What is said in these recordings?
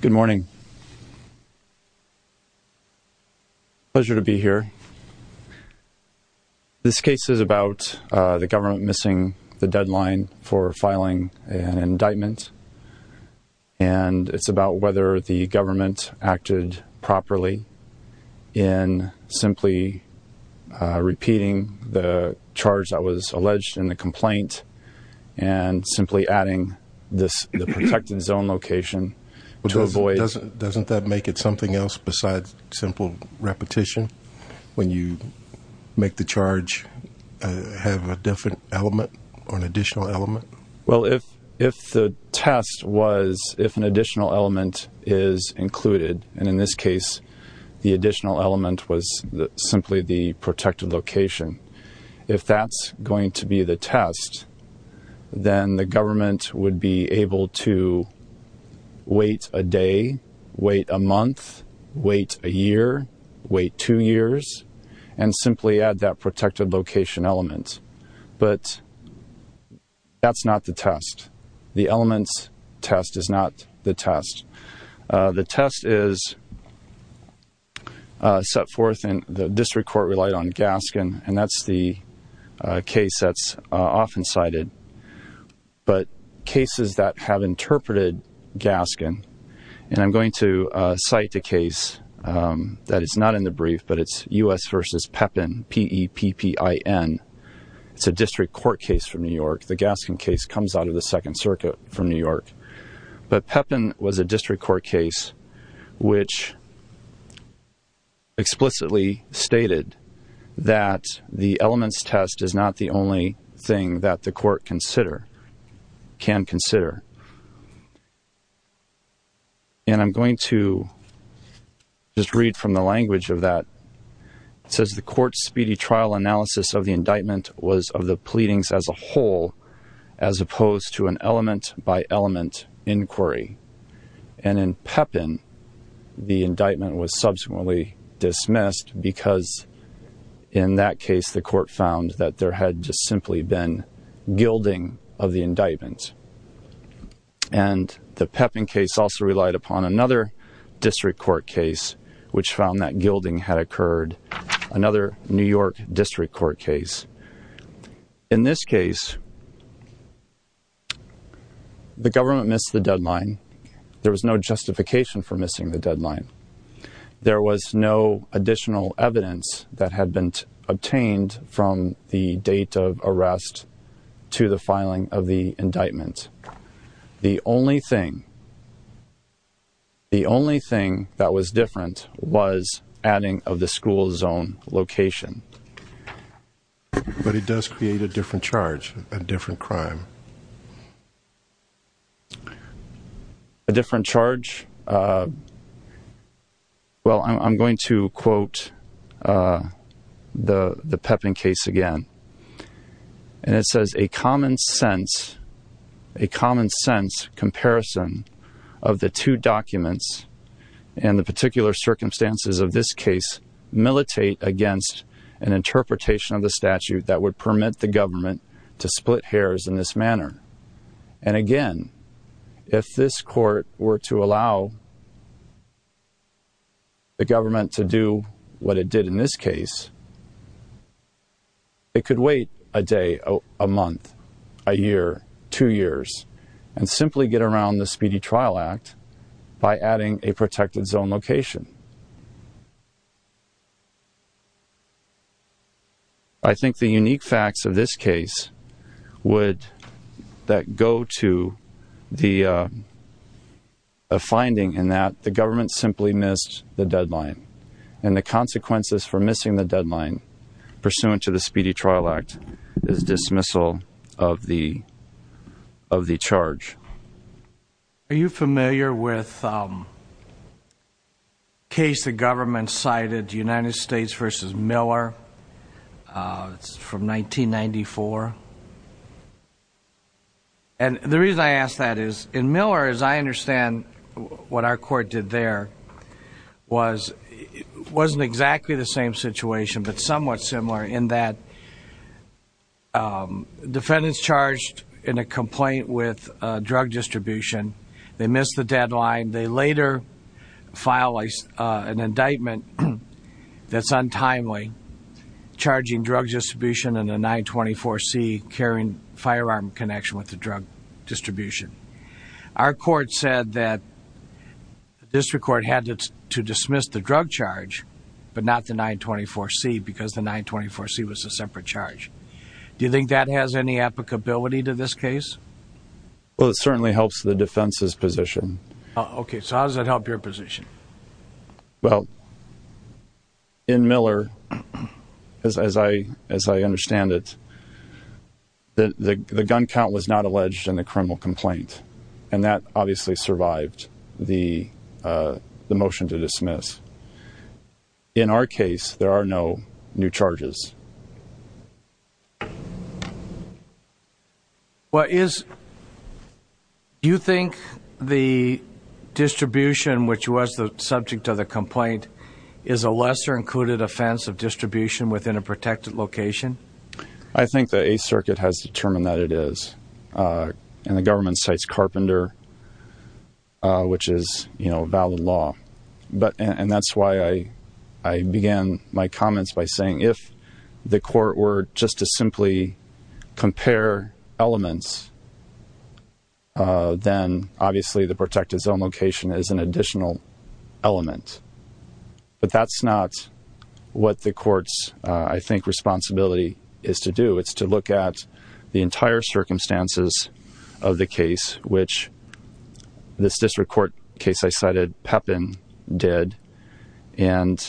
Good morning. Pleasure to be here. This case is about the government missing the deadline for filing an indictment, and it's about whether the government acted properly in simply repeating the charge that was alleged in the complaint, and simply adding the protected zone location to avoid... Doesn't that make it something else besides simple repetition, when you make the charge have a different element or an additional element? Well, if the test was if an additional element is included, and in this case, the additional element was simply the protected location, if that's going to be the test, then the government would be able to wait a day, wait a month, wait a year, wait two years, and simply add that protected location element. But that's not the test. The elements test is not the test. The test is set forth in the district court relied on Gaskin, and that's the case that's often cited. But cases that have interpreted Gaskin, and I'm going to cite the case that is not in the brief, but it's U.S. v. Pepin, P-E-P-P-I-N. It's a district court case from New York. The Gaskin case comes out of the Second Circuit from New York. But Pepin was a district court case which explicitly stated that the elements test is not the only thing that the court can consider. And I'm going to just read from the language of that. It says the court's speedy trial analysis of the indictment was of the pleadings as a whole as opposed to an element by element inquiry. And in Pepin, the indictment was subsequently dismissed because in that case the court found that there had just simply been gilding of the indictment. And the Pepin case also relied upon another district court case which found that gilding had occurred, another New York district court case. In this case, the government missed the deadline. There was no justification for missing the deadline. There was no additional evidence that had been obtained from the date of arrest to the filing of the indictment. The only thing, the only thing that was different was adding of the school zone location. But it does create a different charge, a different crime. A different charge? Well, I'm going to quote the Pepin case again. And it says a common sense, a common sense comparison of the two documents and the particular circumstances of this case militate against an interpretation of the statute that would permit the government to split hairs in this manner. And again, if this court were to allow the government to do what it did in this case, it could wait a day, a month, a year, two years, and simply get around the Speedy Trial Act by adding a protected zone location. I think the unique facts of this case would go to the finding in that the government simply missed the deadline. And the consequences for missing the deadline pursuant to the Speedy Trial Act is dismissal of the charge. Are you familiar with the case the government cited, United States v. Miller, from 1994? And the reason I ask that is in Miller, as I understand what our court did there, was it wasn't exactly the same situation but somewhat similar in that defendants charged in a complaint with drug distribution, they missed the deadline. They later filed an indictment that's untimely, charging drug distribution and a 924C carrying firearm connection with the drug distribution. Our court said that the district court had to dismiss the drug charge but not the 924C because the 924C was a separate charge. Do you think that has any applicability to this case? Well, it certainly helps the defense's position. Okay, so how does that help your position? Well, in Miller, as I understand it, the gun count was not alleged in the criminal complaint. And that obviously survived the motion to dismiss. In our case, there are no new charges. Do you think the distribution, which was the subject of the complaint, is a lesser included offense of distribution within a protected location? I think the 8th Circuit has determined that it is. And the government cites Carpenter, which is, you know, valid law. And that's why I began my comments by saying if the court were just to simply compare elements, then obviously the protected zone location is an additional element. But that's not what the court's, I think, responsibility is to do. It's to look at the entire circumstances of the case, which this district court case I cited, Pepin, did. And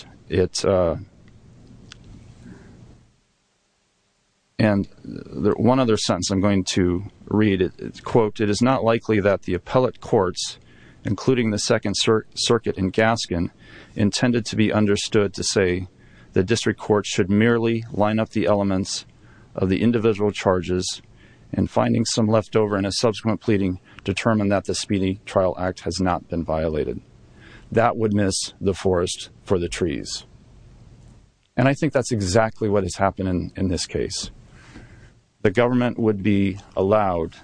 one other sentence I'm going to read, quote, And I think that's exactly what has happened in this case. The government would be allowed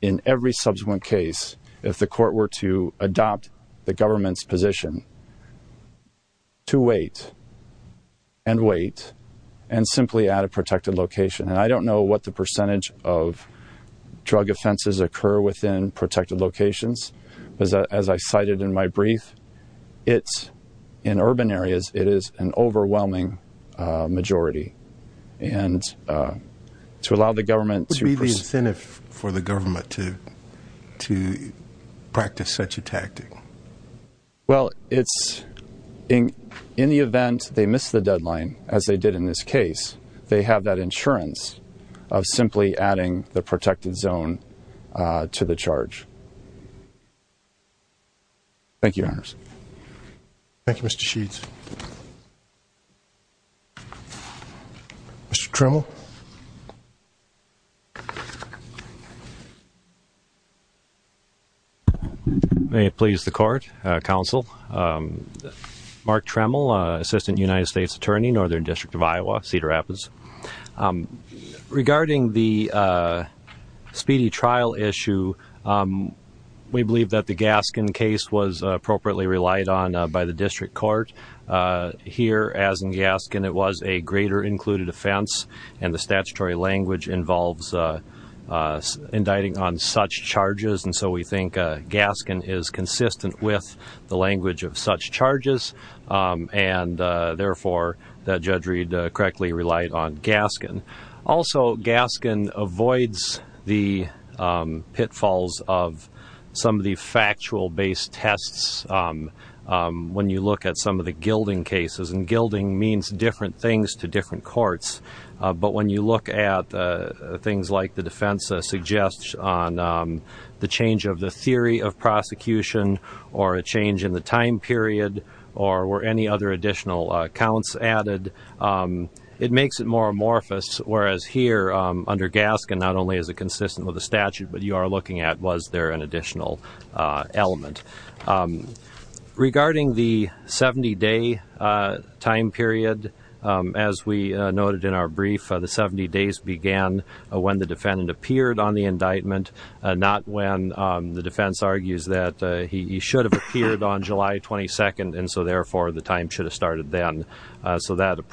in every subsequent case, if the court were to adopt the government's position, to wait and wait and simply add a protected location. And I don't know what the percentage of drug offenses occur within protected locations. As I cited in my brief, it's in urban areas, it is an overwhelming majority. And to allow the government to... What would be the incentive for the government to practice such a tactic? Well, it's in the event they miss the deadline, as they did in this case, they have that insurance of simply adding the protected zone to the charge. Thank you, Your Honors. Thank you, Mr. Sheets. Mr. Trimble. May it please the Court, Counsel. Mark Trimble, Assistant United States Attorney, Northern District of Iowa, Cedar Rapids. Regarding the speedy trial issue, we believe that the Gaskin case was appropriately relied on by the district court. Here, as in Gaskin, it was a greater included offense, and the statutory language involves indicting on such charges. And so we think Gaskin is consistent with the language of such charges, and therefore the judge read correctly relied on Gaskin. Also, Gaskin avoids the pitfalls of some of the factual-based tests when you look at some of the gilding cases. And gilding means different things to different courts. But when you look at things like the defense suggests on the change of the theory of prosecution, or a change in the time period, or were any other additional accounts added, it makes it more amorphous. Whereas here, under Gaskin, not only is it consistent with the statute, but you are looking at was there an additional element. Regarding the 70-day time period, as we noted in our brief, the 70 days began when the defendant appeared on the indictment, not when the defense argues that he should have appeared on July 22nd, and so therefore the time should have started then. So the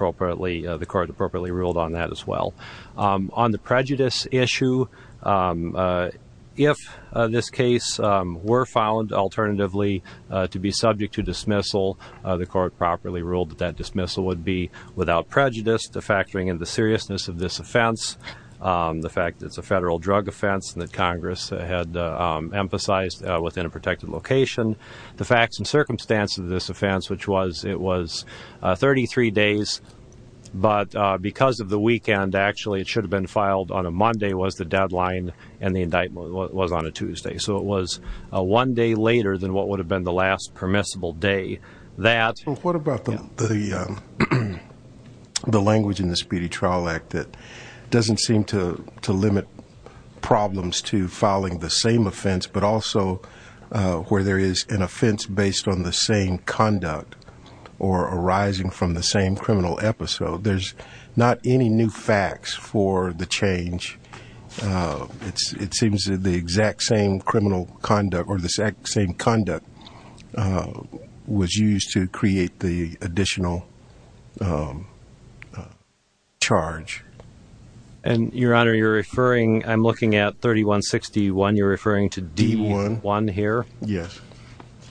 court appropriately ruled on that as well. On the prejudice issue, if this case were found, alternatively, to be subject to dismissal, the court properly ruled that that dismissal would be without prejudice, de-factoring in the seriousness of this offense, the fact that it's a federal drug offense that Congress had emphasized within a protected location, the facts and circumstances of this offense, which was it was 33 days, but because of the weekend, actually, it should have been filed on a Monday was the deadline, and the indictment was on a Tuesday. So it was one day later than what would have been the last permissible day. What about the language in the Speedy Trial Act that doesn't seem to limit problems to filing the same offense, but also where there is an offense based on the same conduct or arising from the same criminal episode? There's not any new facts for the change. It seems that the exact same criminal conduct or the exact same conduct was used to create the additional charge. And, Your Honor, you're referring, I'm looking at 3161, you're referring to D1 here? Yes. Thank you.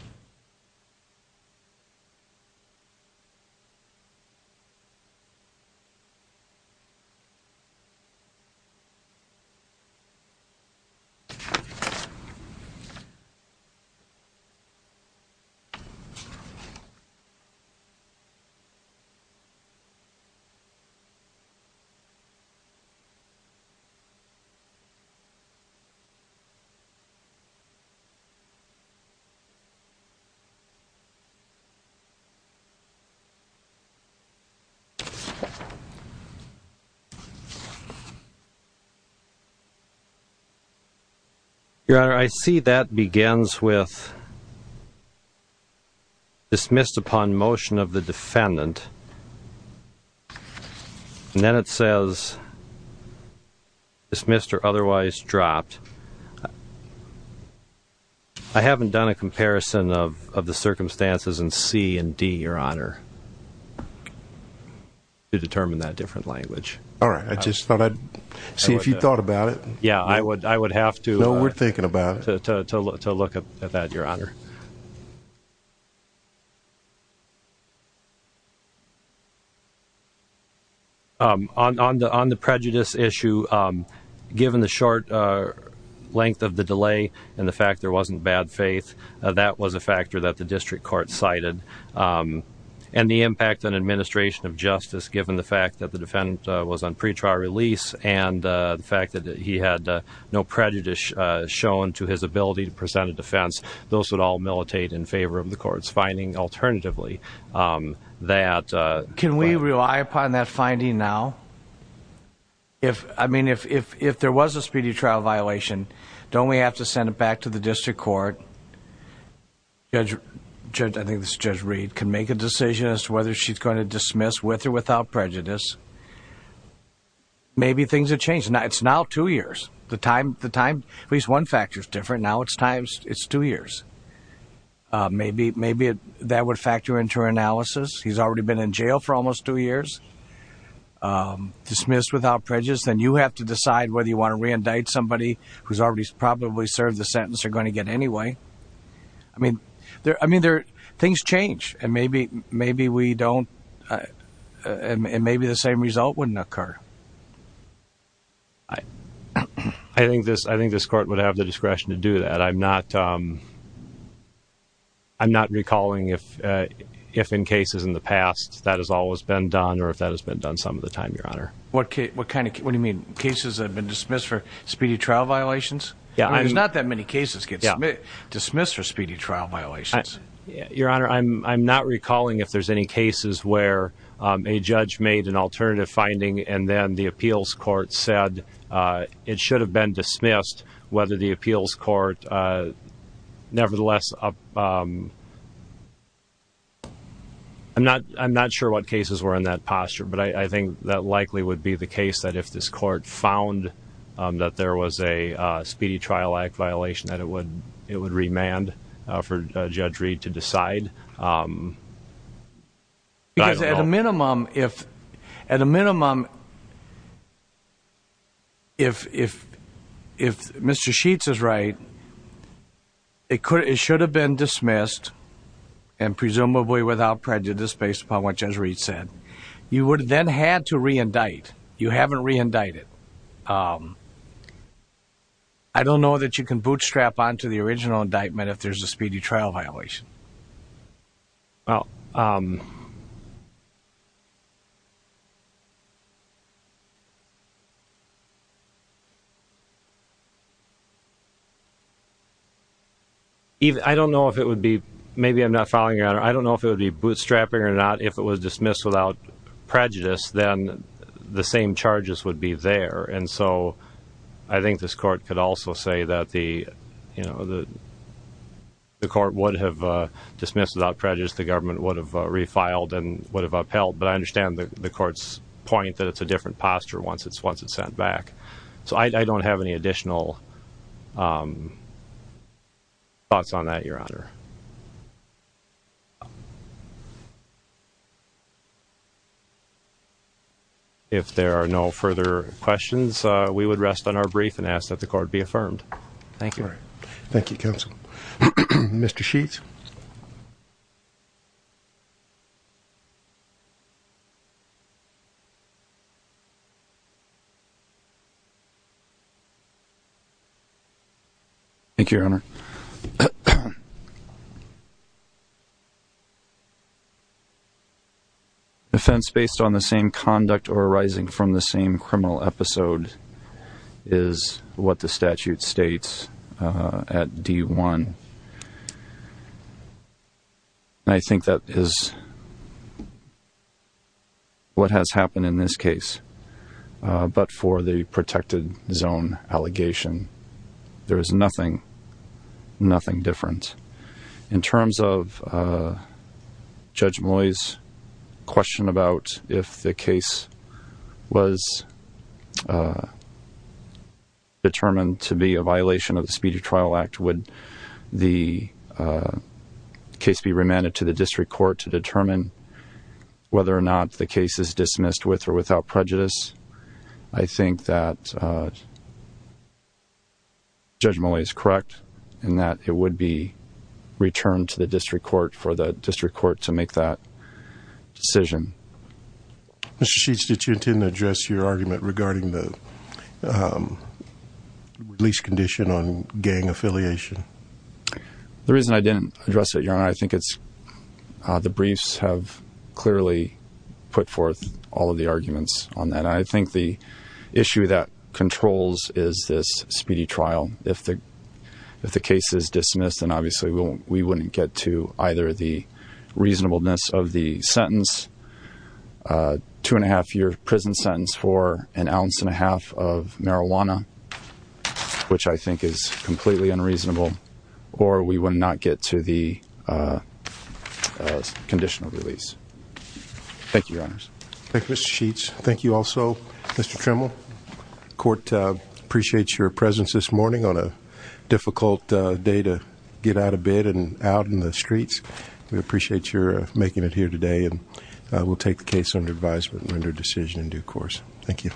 Your Honor, I see that begins with dismissed upon motion of the defendant, and then it says dismissed or otherwise dropped. I haven't done a comparison of the circumstances in C and D, Your Honor, to determine that different language. All right. I just thought I'd see if you thought about it. Yeah, I would have to. No, we're thinking about it. To look at that, Your Honor. On the prejudice issue, given the short length of the delay and the fact there wasn't bad faith, that was a factor that the district court cited. And the impact on administration of justice, given the fact that the defendant was on pretrial release and the fact that he had no prejudice shown to his ability to present a defense, those would all militate in favor of the court's finding, alternatively. Can we rely upon that finding now? I mean, if there was a speedy trial violation, don't we have to send it back to the district court? Judge Reed can make a decision as to whether she's going to dismiss with or without prejudice. Maybe things have changed. It's now two years. At least one factor is different. Now it's two years. Maybe that would factor into her analysis. He's already been in jail for almost two years, dismissed without prejudice. Then you have to decide whether you want to reindict somebody who's already probably served the sentence or going to get it anyway. I mean, things change. And maybe the same result wouldn't occur. I think this court would have the discretion to do that. I'm not recalling if in cases in the past that has always been done or if that has been done some of the time, Your Honor. What do you mean? Cases that have been dismissed for speedy trial violations? There's not that many cases that get dismissed for speedy trial violations. Your Honor, I'm not recalling if there's any cases where a judge made an alternative finding and then the appeals court said it should have been dismissed, whether the appeals court nevertheless up... I'm not sure what cases were in that posture. But I think that likely would be the case that if this court found that there was a speedy trial act violation, that it would remand for Judge Reed to decide. I don't know. Because at a minimum, if Mr. Sheets is right, it should have been dismissed, and presumably without prejudice based upon what Judge Reed said. You would have then had to reindict. You haven't reindicted. I don't know that you can bootstrap onto the original indictment if there's a speedy trial violation. I don't know if it would be... Maybe I'm not following, Your Honor. I don't know if it would be bootstrapping or not. If it was dismissed without prejudice, then the same charges would be there. And so I think this court could also say that the court would have dismissed without prejudice. The government would have refiled and would have upheld. But I understand the court's point that it's a different posture once it's sent back. So I don't have any additional thoughts on that, Your Honor. If there are no further questions, we would rest on our brief and ask that the court be affirmed. Thank you. Thank you, Counsel. Mr. Sheets. Thank you, Your Honor. Offense based on the same conduct or arising from the same criminal episode is what the statute states at D1. And I think that is what has happened in this case. But for the protected zone allegation, there is nothing, nothing different. In terms of Judge Malloy's question about if the case was determined to be a violation of the Speedy Trial Act, would the case be remanded to the district court to determine whether or not the case is dismissed with or without prejudice? I think that Judge Malloy is correct in that it would be returned to the district court for the district court to make that decision. Mr. Sheets, did you intend to address your argument regarding the release condition on gang affiliation? The reason I didn't address it, Your Honor, I think it's the briefs have clearly put forth all of the arguments on that. And I think the issue that controls is this speedy trial. If the case is dismissed, then obviously we wouldn't get to either the reasonableness of the sentence, two and a half year prison sentence for an ounce and a half of marijuana, which I think is completely unreasonable, or we would not get to the conditional release. Thank you, Your Honors. Thank you, Mr. Sheets. Thank you also, Mr. Trimble. Court appreciates your presence this morning on a difficult day to get out of bed and out in the streets. We appreciate your making it here today, and we'll take the case under advisement and render a decision in due course. Thank you.